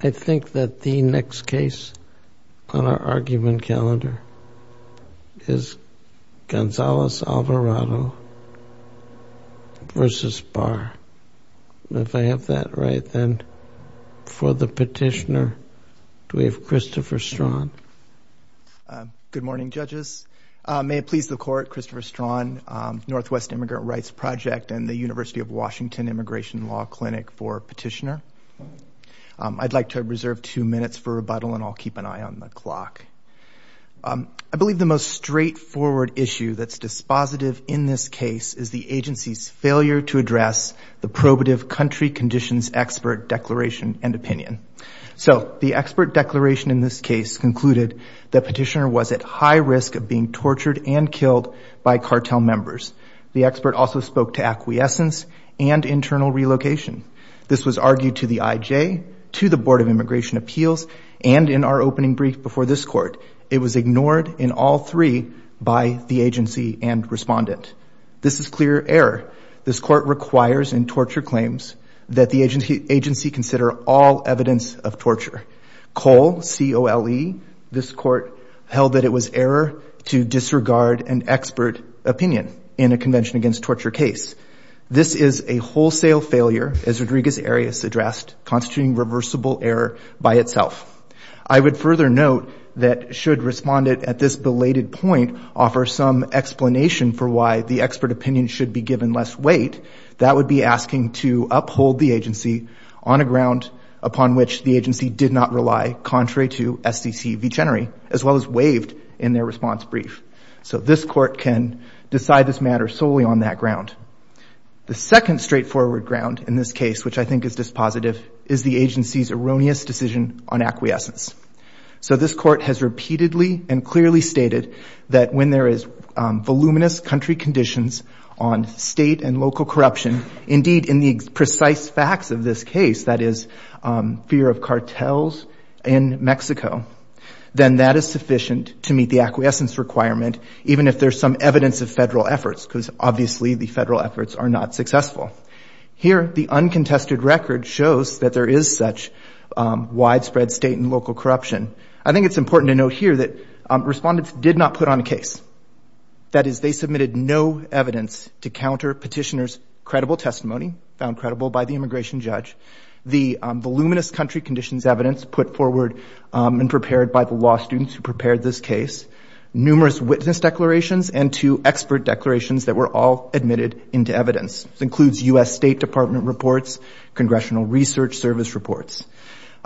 I think that the next case on our argument calendar is Gonzalez-Alvarado v. Barr. If I have that right, then for the petitioner, do we have Christopher Straughan? Good morning, judges. May it please the court, Christopher Straughan, Northwest Immigrant Rights Project and the University of Washington Immigration Law Clinic for Petitioner. I'd like to reserve two minutes for rebuttal and I'll keep an eye on the clock. I believe the most straightforward issue that's dispositive in this case is the agency's failure to address the probative country conditions expert declaration and opinion. So the expert declaration in this case concluded that petitioner was at high risk of being tortured and killed by cartel members. The expert also spoke to acquiescence and internal relocation. This was argued to the IJ, to the Board of Immigration Appeals, and in our opening brief before this court, it was ignored in all three by the agency and respondent. This is clear error. This court requires in torture claims that the agency consider all evidence of torture. COLE, C-O-L-E, this court held that it was error to disregard an expert opinion in a convention against torture case. This is a wholesale failure, as Rodriguez Arias addressed, constituting reversible error by itself. I would further note that should respondent at this belated point offer some explanation for why the expert opinion should be given less weight, that would be asking to uphold the agency on a ground upon which the agency did not rely contrary to SCC v. Chenery, as well as waived in their response brief. So this court can decide this matter solely on that ground. The second straightforward ground in this case, which I think is dispositive, is the agency's erroneous decision on acquiescence. So this court has repeatedly and clearly stated that when there is voluminous country conditions on state and local corruption, indeed in the precise facts of this case, that is, fear of cartels in Mexico, then that is sufficient to meet the acquiescence requirement, even if there's some evidence of federal efforts, because obviously the federal efforts are not successful. Here, the uncontested record shows that there is such widespread state and local corruption. I think it's important to note here that respondents did not put on a case. That is, they submitted no evidence to counter petitioner's credible testimony, found credible by the immigration judge, the voluminous country conditions evidence put forward and prepared by the law students who prepared this case, numerous witness declarations, and two expert declarations that were all admitted into evidence. This includes U.S. State Department reports, Congressional Research Service reports.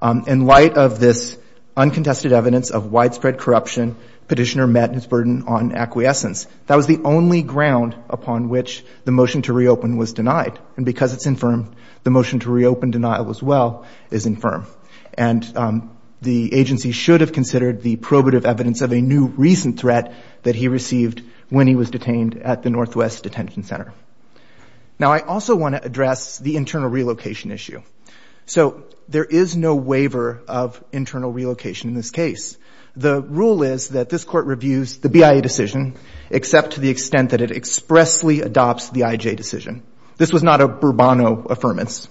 In light of this uncontested evidence of widespread corruption, petitioner met his burden on acquiescence. That was the only ground upon which the motion to reopen was denied. And because it's infirm, the motion to reopen denial as well is infirm. And the agency should have considered the probative evidence of a new recent threat that he received when he was detained at the Northwest Detention Center. Now, I also want to address the internal relocation issue. So there is no waiver of rule. The rule is that this court reviews the BIA decision except to the extent that it expressly adopts the IJ decision. This was not a Bourbano affirmance.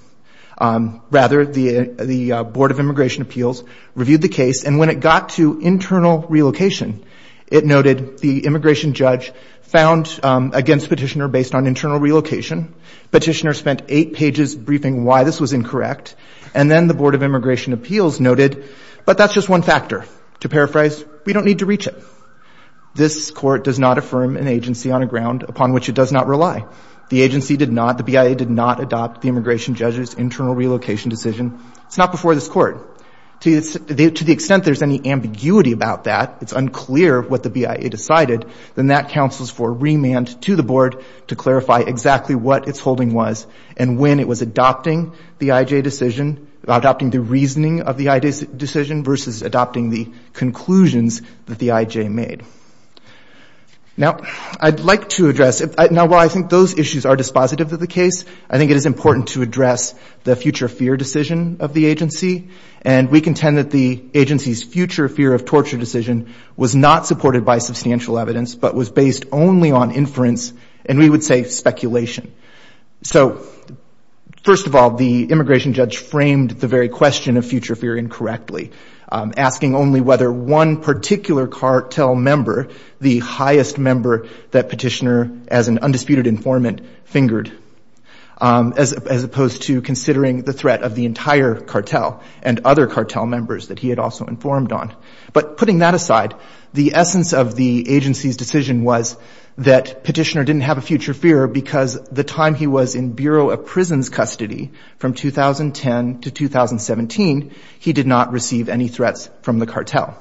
Rather, the Board of Immigration Appeals reviewed the case. And when it got to internal relocation, it noted the immigration judge found against petitioner based on internal relocation. Petitioner spent eight pages briefing why this was incorrect. And then the Board of Immigration Appeals noted, but that's just one To paraphrase, we don't need to reach it. This court does not affirm an agency on a ground upon which it does not rely. The agency did not, the BIA did not adopt the immigration judge's internal relocation decision. It's not before this court. To the extent there's any ambiguity about that, it's unclear what the BIA decided, then that counsels for remand to the Board to clarify exactly what its holding was and when it was adopting the IJ decision, adopting the conclusions that the IJ made. Now, I'd like to address, now while I think those issues are dispositive of the case, I think it is important to address the future fear decision of the agency. And we contend that the agency's future fear of torture decision was not supported by substantial evidence, but was based only on inference, and we would say speculation. So, first of all, the immigration judge framed the very question of future fear incorrectly, asking only whether one particular cartel member, the highest member that Petitioner, as an undisputed informant, fingered, as opposed to considering the threat of the entire cartel and other cartel members that he had also informed on. But putting that aside, the essence of the agency's decision was that Petitioner didn't have a future fear because the time he was in Bureau of Prisons custody, from 2010 to 2017, he did not receive any threats from the cartel.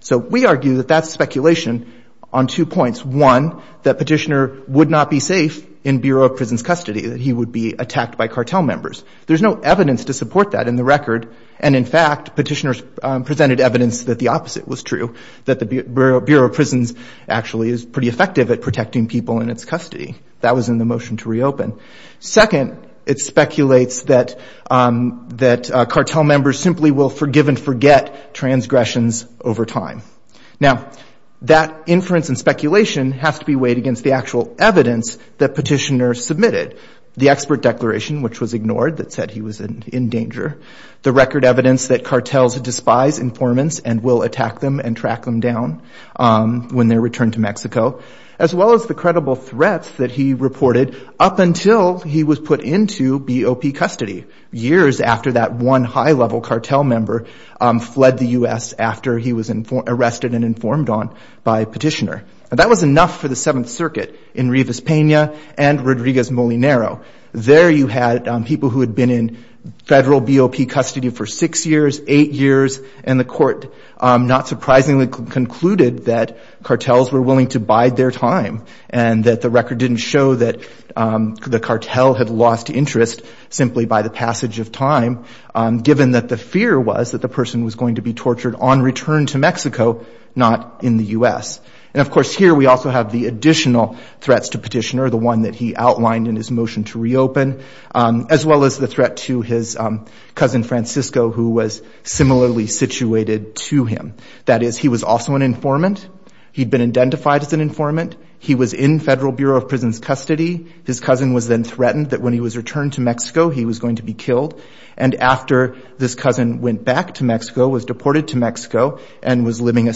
So we argue that that's speculation on two points. One, that Petitioner would not be safe in Bureau of Prisons custody, that he would be attacked by cartel members. There's no evidence to support that in the record, and in fact, Petitioner presented evidence that the opposite was true, that the Bureau of Prisons actually is pretty effective at protecting people in its custody. That was in the motion to reopen. Second, it speculates that cartel members simply will forgive and forget transgressions over time. Now, that inference and speculation has to be weighed against the actual evidence that Petitioner submitted. The expert declaration, which was ignored, that said he was in danger, the record evidence that cartels despise informants and will attack them and track them down when they return to Mexico, as well as the credible threats that he reported up until he was put into BOP custody, years after that one high-level cartel member fled the U.S. after he was arrested and informed on by Petitioner. That was enough for the Seventh Circuit in Rivas Peña and Rodriguez Molinaro. There you had people who had been in federal BOP custody for six years, eight years, and the court not surprisingly concluded that cartels were willing to bide their time and that the record didn't show that the cartel had lost interest simply by the passage of time, given that the fear was that the person was going to be tortured on return to Mexico, not in the U.S. And of course here we also have the additional threats to Petitioner, the one that he outlined in his motion to reopen, as well as the threat to his cousin Francisco, who was similarly situated to him. That is, he was also an informant. He'd been identified as an informant. He was in federal Bureau of Prisons custody. His cousin was then threatened that when he was returned to Mexico, he was going to be killed. And after this cousin went back to Mexico, was deported to Mexico, and was living a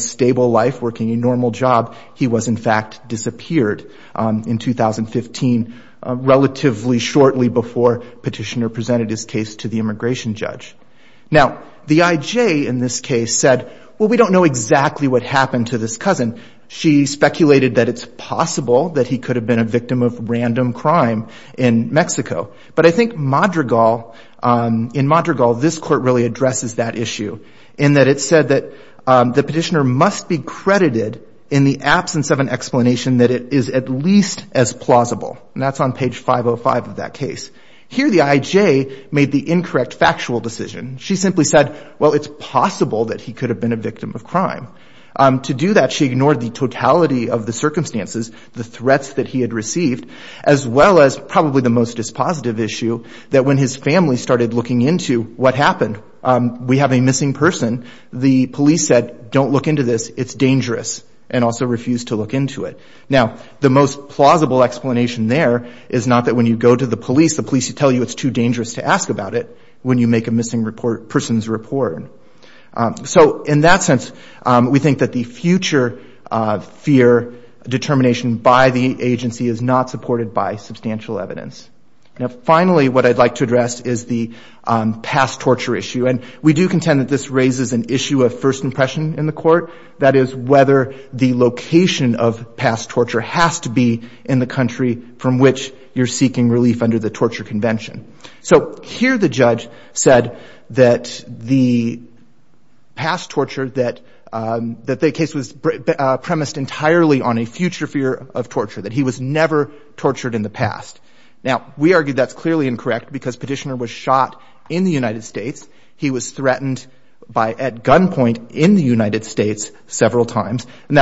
before Petitioner presented his case to the immigration judge. Now, the I.J. in this case said, well, we don't know exactly what happened to this cousin. She speculated that it's possible that he could have been a victim of random crime in Mexico. But I think Madrigal, in Madrigal, this court really addresses that issue in that it said that the Petitioner must be credited in the absence of an explanation that it is at least as plausible. And that's on page 505 of that case. Here, the I.J. made the incorrect factual decision. She simply said, well, it's possible that he could have been a victim of crime. To do that, she ignored the totality of the circumstances, the threats that he had received, as well as probably the most dispositive issue, that when his family started looking into what happened, we have a missing person. The police said, don't look into this. It's dangerous. And also refused to look into it. Now, the most plausible explanation there is not that when you go to the police, the police tell you it's too dangerous to ask about it when you make a missing person's report. So in that sense, we think that the future fear determination by the agency is not supported by substantial evidence. Now, finally, what I'd like to address is the past torture issue. And we do contend that this the location of past torture has to be in the country from which you're seeking relief under the torture convention. So here, the judge said that the past torture, that the case was premised entirely on a future fear of torture, that he was never tortured in the past. Now, we argue that's clearly incorrect because Petitioner was shot in the United States. He was shot in Mexico. And that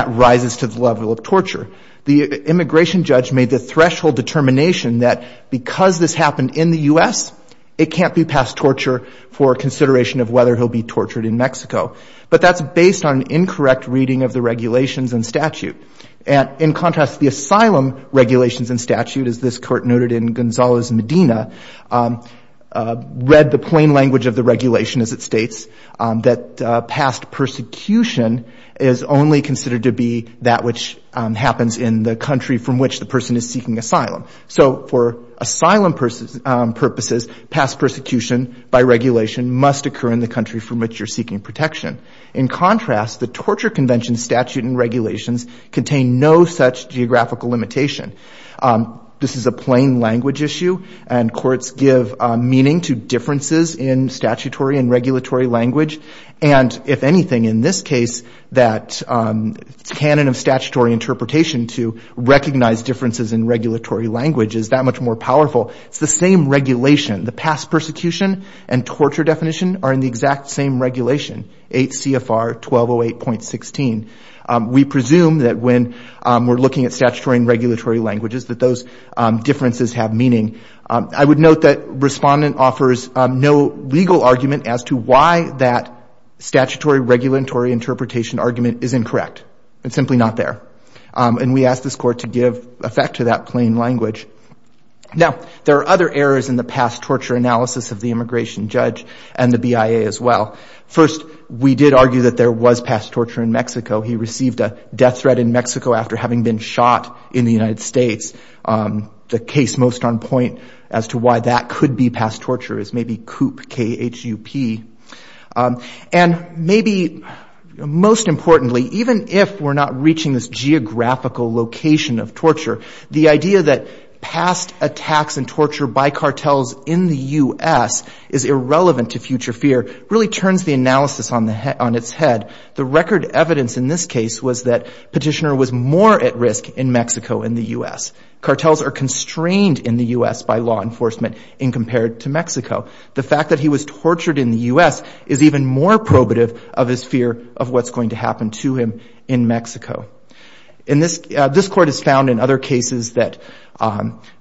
rises to the level of torture. The immigration judge made the threshold determination that because this happened in the U.S., it can't be past torture for consideration of whether he'll be tortured in Mexico. But that's based on incorrect reading of the regulations and statute. And in contrast, the asylum regulations and statute, as this court noted in Gonzales-Medina, read the plain language of the regulation as it states that past persecution is only considered to be that which happens in the country from which the person is seeking asylum. So for asylum purposes, past persecution by regulation must occur in the country from which you're seeking protection. In contrast, the torture convention statute and regulations contain no such geographical limitation. This is a plain language issue, and courts give meaning to differences in statutory and regulatory language. And if anything, in this case, that canon of statutory interpretation to recognize differences in regulatory language is that much more powerful. It's the same regulation. The past persecution and torture definition are in the exact same regulation, 8 CFR 1208.16. We presume that when we're looking at statutory and regulatory languages that those differences have meaning. I would note that respondent offers no legal argument as to why that statutory regulatory interpretation argument is incorrect. It's simply not there. And we ask this court to give effect to that plain language. Now, there are other errors in the past torture analysis of the immigration judge and the BIA as well. First, we did argue that there was past torture in Mexico. He received a death threat in Mexico after having been shot in the United States. The case most on point as to why that could be past torture is maybe COOP, K-H-U-P. And maybe most importantly, even if we're not reaching this geographical location of torture, the idea that past attacks and torture by cartels in the U.S. is irrelevant to future fear really turns the analysis on its head. The record evidence in this case was that Petitioner was more at risk in Mexico in the U.S. Cartels are constrained in the U.S. by law enforcement compared to Mexico. The fact that was tortured in the U.S. is even more probative of his fear of what's going to happen to him in Mexico. And this court has found in other cases that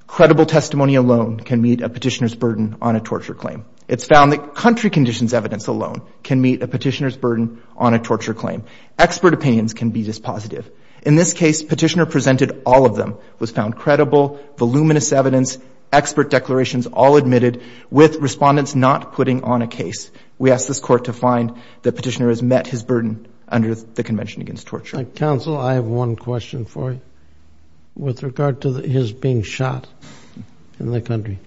credible testimony alone can meet a petitioner's burden on a torture claim. It's found that country conditions evidence alone can meet a petitioner's burden on a torture claim. Expert opinions can be dispositive. In this case, Petitioner presented all of them, was found credible, voluminous evidence, expert declarations all admitted with respondents not putting on a case. We ask this court to find that Petitioner has met his burden under the Convention Against Torture. Counsel, I have one question for you. With regard to his being shot in the country,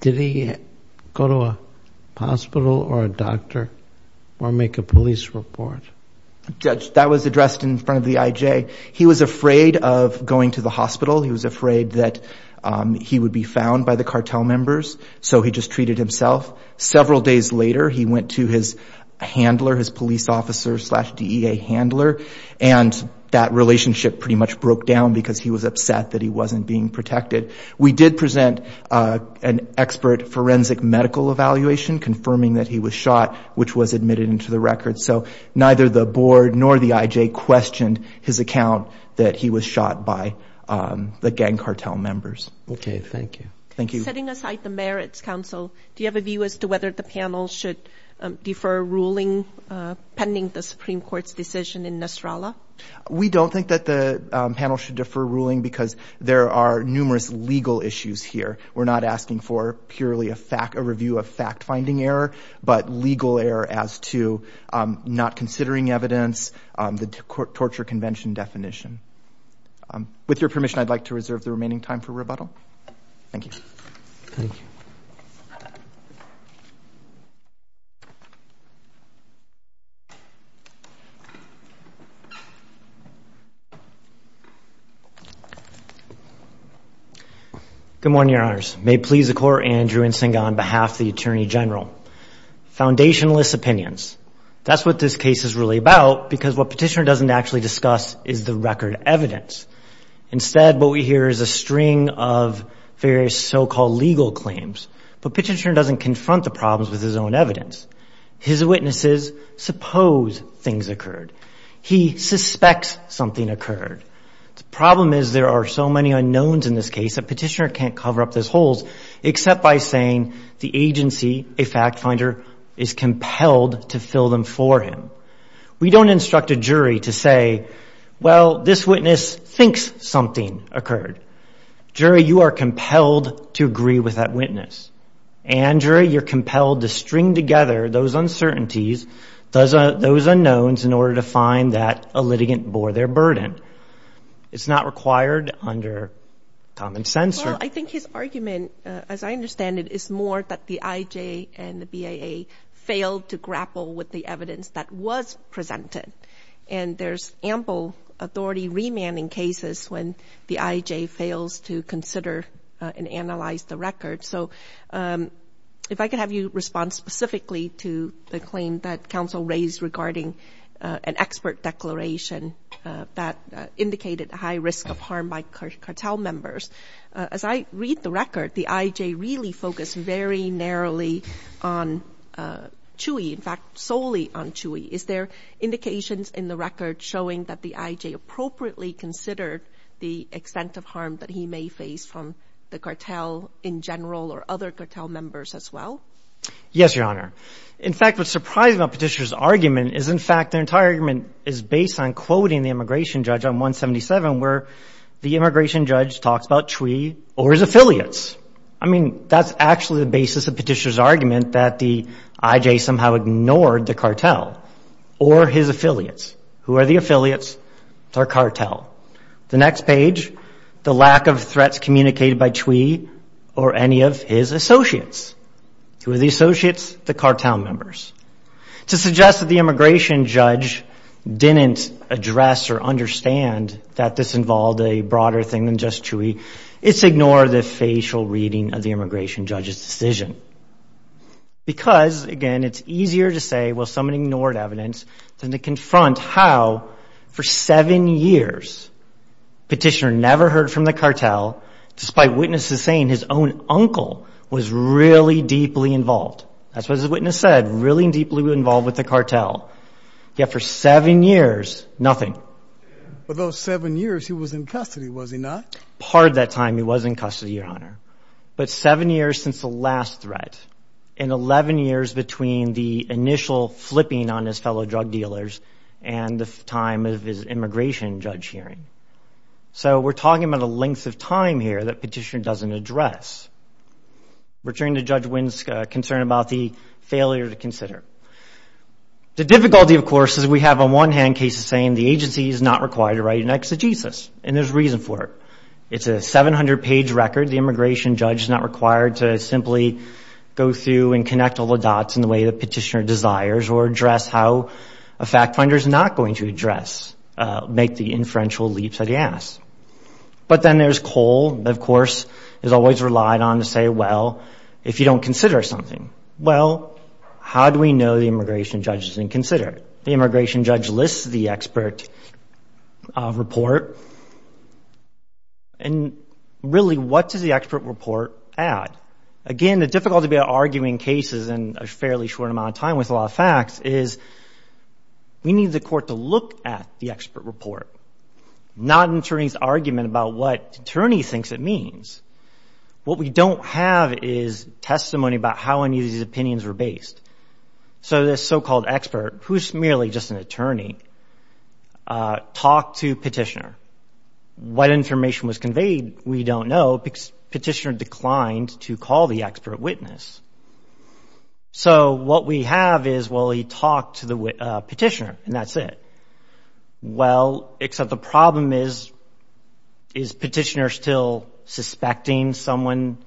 did he go to a hospital or a doctor or make a police report? Judge, that was addressed in front of the I.J. He was afraid of going to the hospital. He was found by the cartel members. So he just treated himself. Several days later, he went to his handler, his police officer slash DEA handler, and that relationship pretty much broke down because he was upset that he wasn't being protected. We did present an expert forensic medical evaluation confirming that he was shot, which was admitted into the record. So neither the board nor the I.J. questioned his account that he was shot by the gang cartel members. Okay. Thank you. Thank you. Setting aside the merits, counsel, do you have a view as to whether the panel should defer ruling pending the Supreme Court's decision in Nasrallah? We don't think that the panel should defer ruling because there are numerous legal issues here. We're not asking for purely a review of fact-finding error, but legal error as to not considering evidence, the torture convention definition. With your permission, I'd like to reserve the remaining time for rebuttal. Thank you. Thank you. Good morning, Your Honors. May it please the Court, Andrew Nsinga on behalf of the Attorney General. Foundationless opinions. That's what this case is really about because what Petitioner doesn't actually discuss is the record evidence. Instead, what we hear is a string of various so-called legal claims. But Petitioner doesn't confront the problems with his own evidence. His witnesses suppose things occurred. He suspects something occurred. The problem is there are so many unknowns in this case that Petitioner can't cover up those holes except by saying the agency, a fact finder, is compelled to fill them for him. We don't instruct a jury to say, well, this witness thinks something occurred. Jury, you are compelled to agree with that witness. And jury, you're compelled to string together those uncertainties, those unknowns, in order to find that a litigant bore their burden. It's not required under common sense. I think his argument, as I understand it, is more that the IJ and the BAA failed to grapple with the evidence that was presented. And there's ample authority remand in cases when the IJ fails to consider and analyze the record. So if I could have you respond specifically to the claim that counsel raised regarding an expert declaration that indicated a high risk of harm by cartel members. As I read the record, the IJ really focused very narrowly on Chui, in fact, solely on Chui. Is there indications in the record showing that the IJ appropriately considered the extent of harm that he may face from the cartel in general or other cartel members as well? Yes, Your Honor. In fact, what's surprising about Petitioner's argument is, in fact, their entire argument is based on I mean, that's actually the basis of Petitioner's argument that the IJ somehow ignored the cartel or his affiliates. Who are the affiliates? Our cartel. The next page, the lack of threats communicated by Chui or any of his associates. Who are the associates? The cartel members. To suggest that the immigration judge didn't address or understand that this involved a reading of the immigration judge's decision. Because, again, it's easier to say, well, someone ignored evidence than to confront how, for seven years, Petitioner never heard from the cartel, despite witnesses saying his own uncle was really deeply involved. That's what his witness said, really deeply involved with the cartel. Yet for seven years, nothing. For those seven years, he was in custody, was he not? Part of that time, he was in custody, Your Honor. But seven years since the last threat, and 11 years between the initial flipping on his fellow drug dealers and the time of his immigration judge hearing. So we're talking about a length of time here that Petitioner doesn't address. Returning to Judge Winsk's concern about the failure to consider. The difficulty, of course, is we have on one hand cases saying the agency is not required to write an exegesis, and there's reason for it. It's a 700-page record. The immigration judge is not required to simply go through and connect all the dots in the way that Petitioner desires or address how a fact finder is not going to address, make the inferential leaps of the ass. But then there's Cole, of course, who's always relied on to say, well, if you don't consider something, well, how do we know the immigration judge doesn't consider it? The immigration judge lists the expert report. And really, what does the expert report add? Again, the difficulty of arguing cases in a fairly short amount of time with a lot of facts is we need the court to look at the expert report, not an attorney's argument about what attorney thinks it means. What we don't have is testimony about how any of these opinions were based. So this so-called expert, who's merely just an attorney, talked to Petitioner. What information was conveyed, we don't know. Petitioner declined to call the expert witness. So what we have is, well, he talked to the Petitioner, and that's it. Well, except the problem is, is Petitioner still suspecting someone?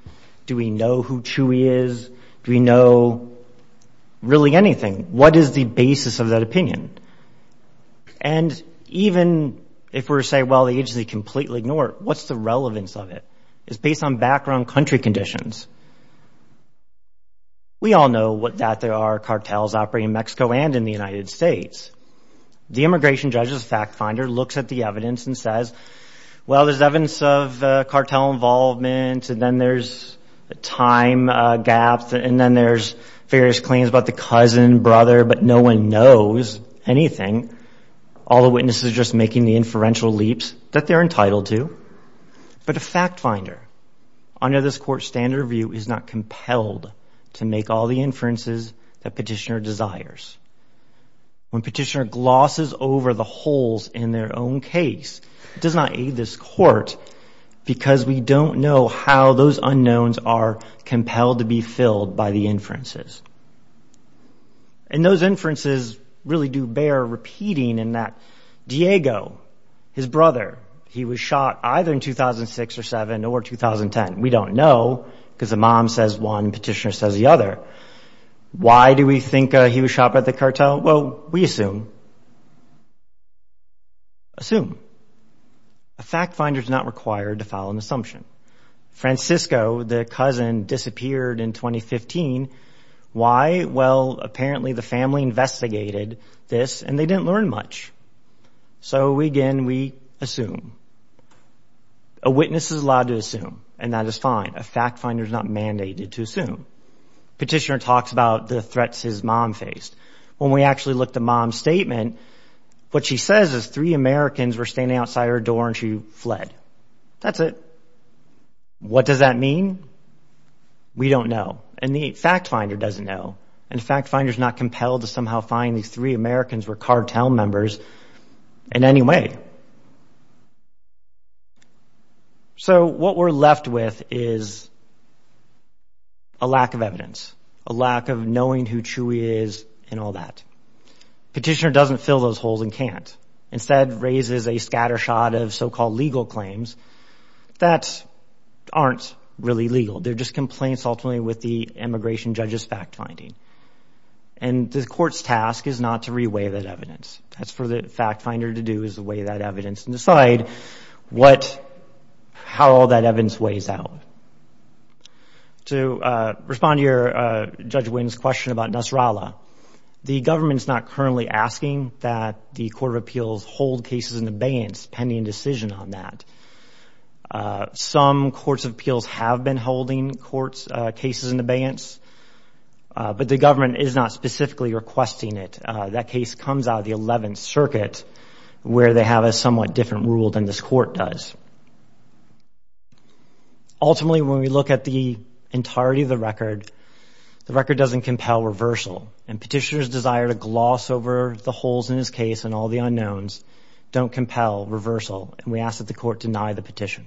Do we know who Chui is? Do we know really anything? What is the basis of that opinion? And even if we say, well, the agency completely ignored it, what's the relevance of it? It's based on background country conditions. We all know that there are cartels operating in Mexico and in the United States. The immigration judge's fact finder looks at the evidence and says, well, there's evidence of cartel involvement, and then there's a time gap, and then there's various claims about the cousin, brother, but no one knows anything. All the witnesses are just making the inferential leaps that they're entitled to. But a fact finder, under this court's standard of view, is not compelled to make all the inferences that Petitioner desires. When Petitioner glosses over the holes in their own case, it does not aid this court because we don't know how those unknowns are compelled to be filled by the inferences. And those inferences really do bear repeating in that Diego, his brother, he was shot either in 2006 or 7 or 2010. We don't know because the mom says one, Petitioner says the other. Why do we think he was shot by the cartel? Well, we assume. Assume. A fact finder is not required to follow an assumption. Francisco, the cousin, disappeared in 2015. Why? Well, apparently the family investigated this and they didn't learn much. So, again, we assume. A witness is allowed to assume, and that is fine. A fact finder is not mandated to assume. Petitioner talks about the threats his mom faced. When we actually looked at the mom's statement, what she says is three Americans were standing outside her door and she fled. That's it. What does that mean? We don't know. And the fact finder doesn't know. And the fact finder is not compelled to somehow find these three Americans were cartel members in any way. So, what we're left with is a lack of evidence, a lack of knowing who Chewy is and all that. Petitioner doesn't fill those holes and can't. Instead, raises a scattershot of so-called legal claims that aren't really legal. They're just complaints ultimately with the immigration judge's fact finding. And the court's task is not to re-weigh that evidence. That's for the fact finder to do is weigh that evidence and decide what, how all that evidence weighs out. To respond to your, Judge Wynn's question about Nasrallah, the government's not currently asking that the Court of Appeals hold cases in abeyance pending a decision on that. Some courts of appeals have been holding court's cases in abeyance, but the government is not specifically requesting it. That case comes out of the 11th Circuit where they have a somewhat different rule than this court does. Ultimately, when we look at the entirety of the record, the record doesn't compel reversal and petitioner's desire to gloss over the holes in his case and all the unknowns don't compel reversal. And we ask that the court deny the petition.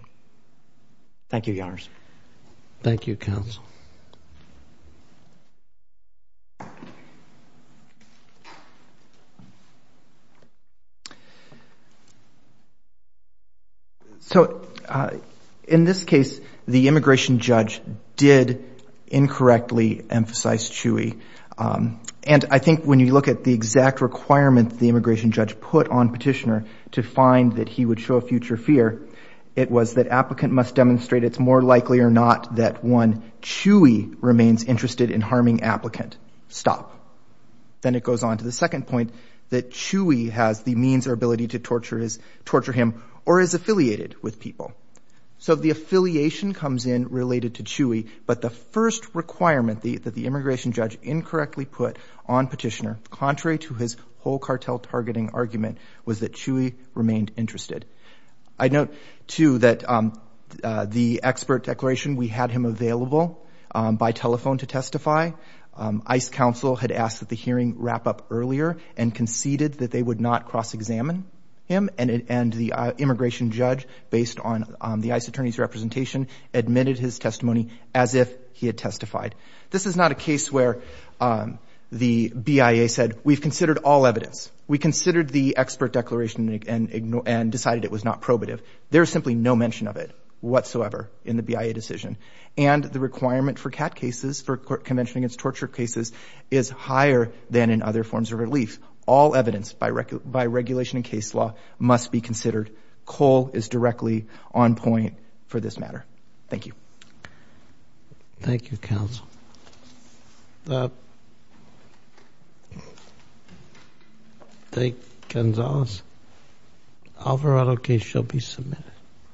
Thank you, Your Honors. Thank you, Counsel. So, in this case, the immigration judge did incorrectly emphasize Chewy. And I think when you look at the exact requirement the immigration judge put on petitioner to find that he would show a future fear, it was that applicant must demonstrate it's more likely or not that one Chewy remains interested in harming applicant. Stop. Then it goes on to the second point, that Chewy has the means or ability to torture his, torture him, or is affiliated with people. So, the affiliation comes in related to Chewy, but the first requirement that the immigration judge incorrectly put on petitioner, contrary to his whole cartel targeting argument, was that Chewy remained interested. I note, too, that the expert declaration, we had him available by telephone to testify. ICE counsel had asked that the hearing wrap up earlier and conceded that they would not cross-examine him. And the immigration judge, based on the ICE attorney's representation, admitted his testimony as if he had testified. This is not a case where the BIA said, we've considered all evidence. We considered the expert declaration and decided it was not probative. There is simply no mention of it whatsoever in the BIA decision. And the requirement for CAT cases, for Convention Against Torture cases, is higher than in other forms of relief. All evidence by regulation and case law must be considered. Cole is directly on point for this matter. Thank you. Thank you, counsel. Thank you, Gonzalez. Alvarado case shall be submitted.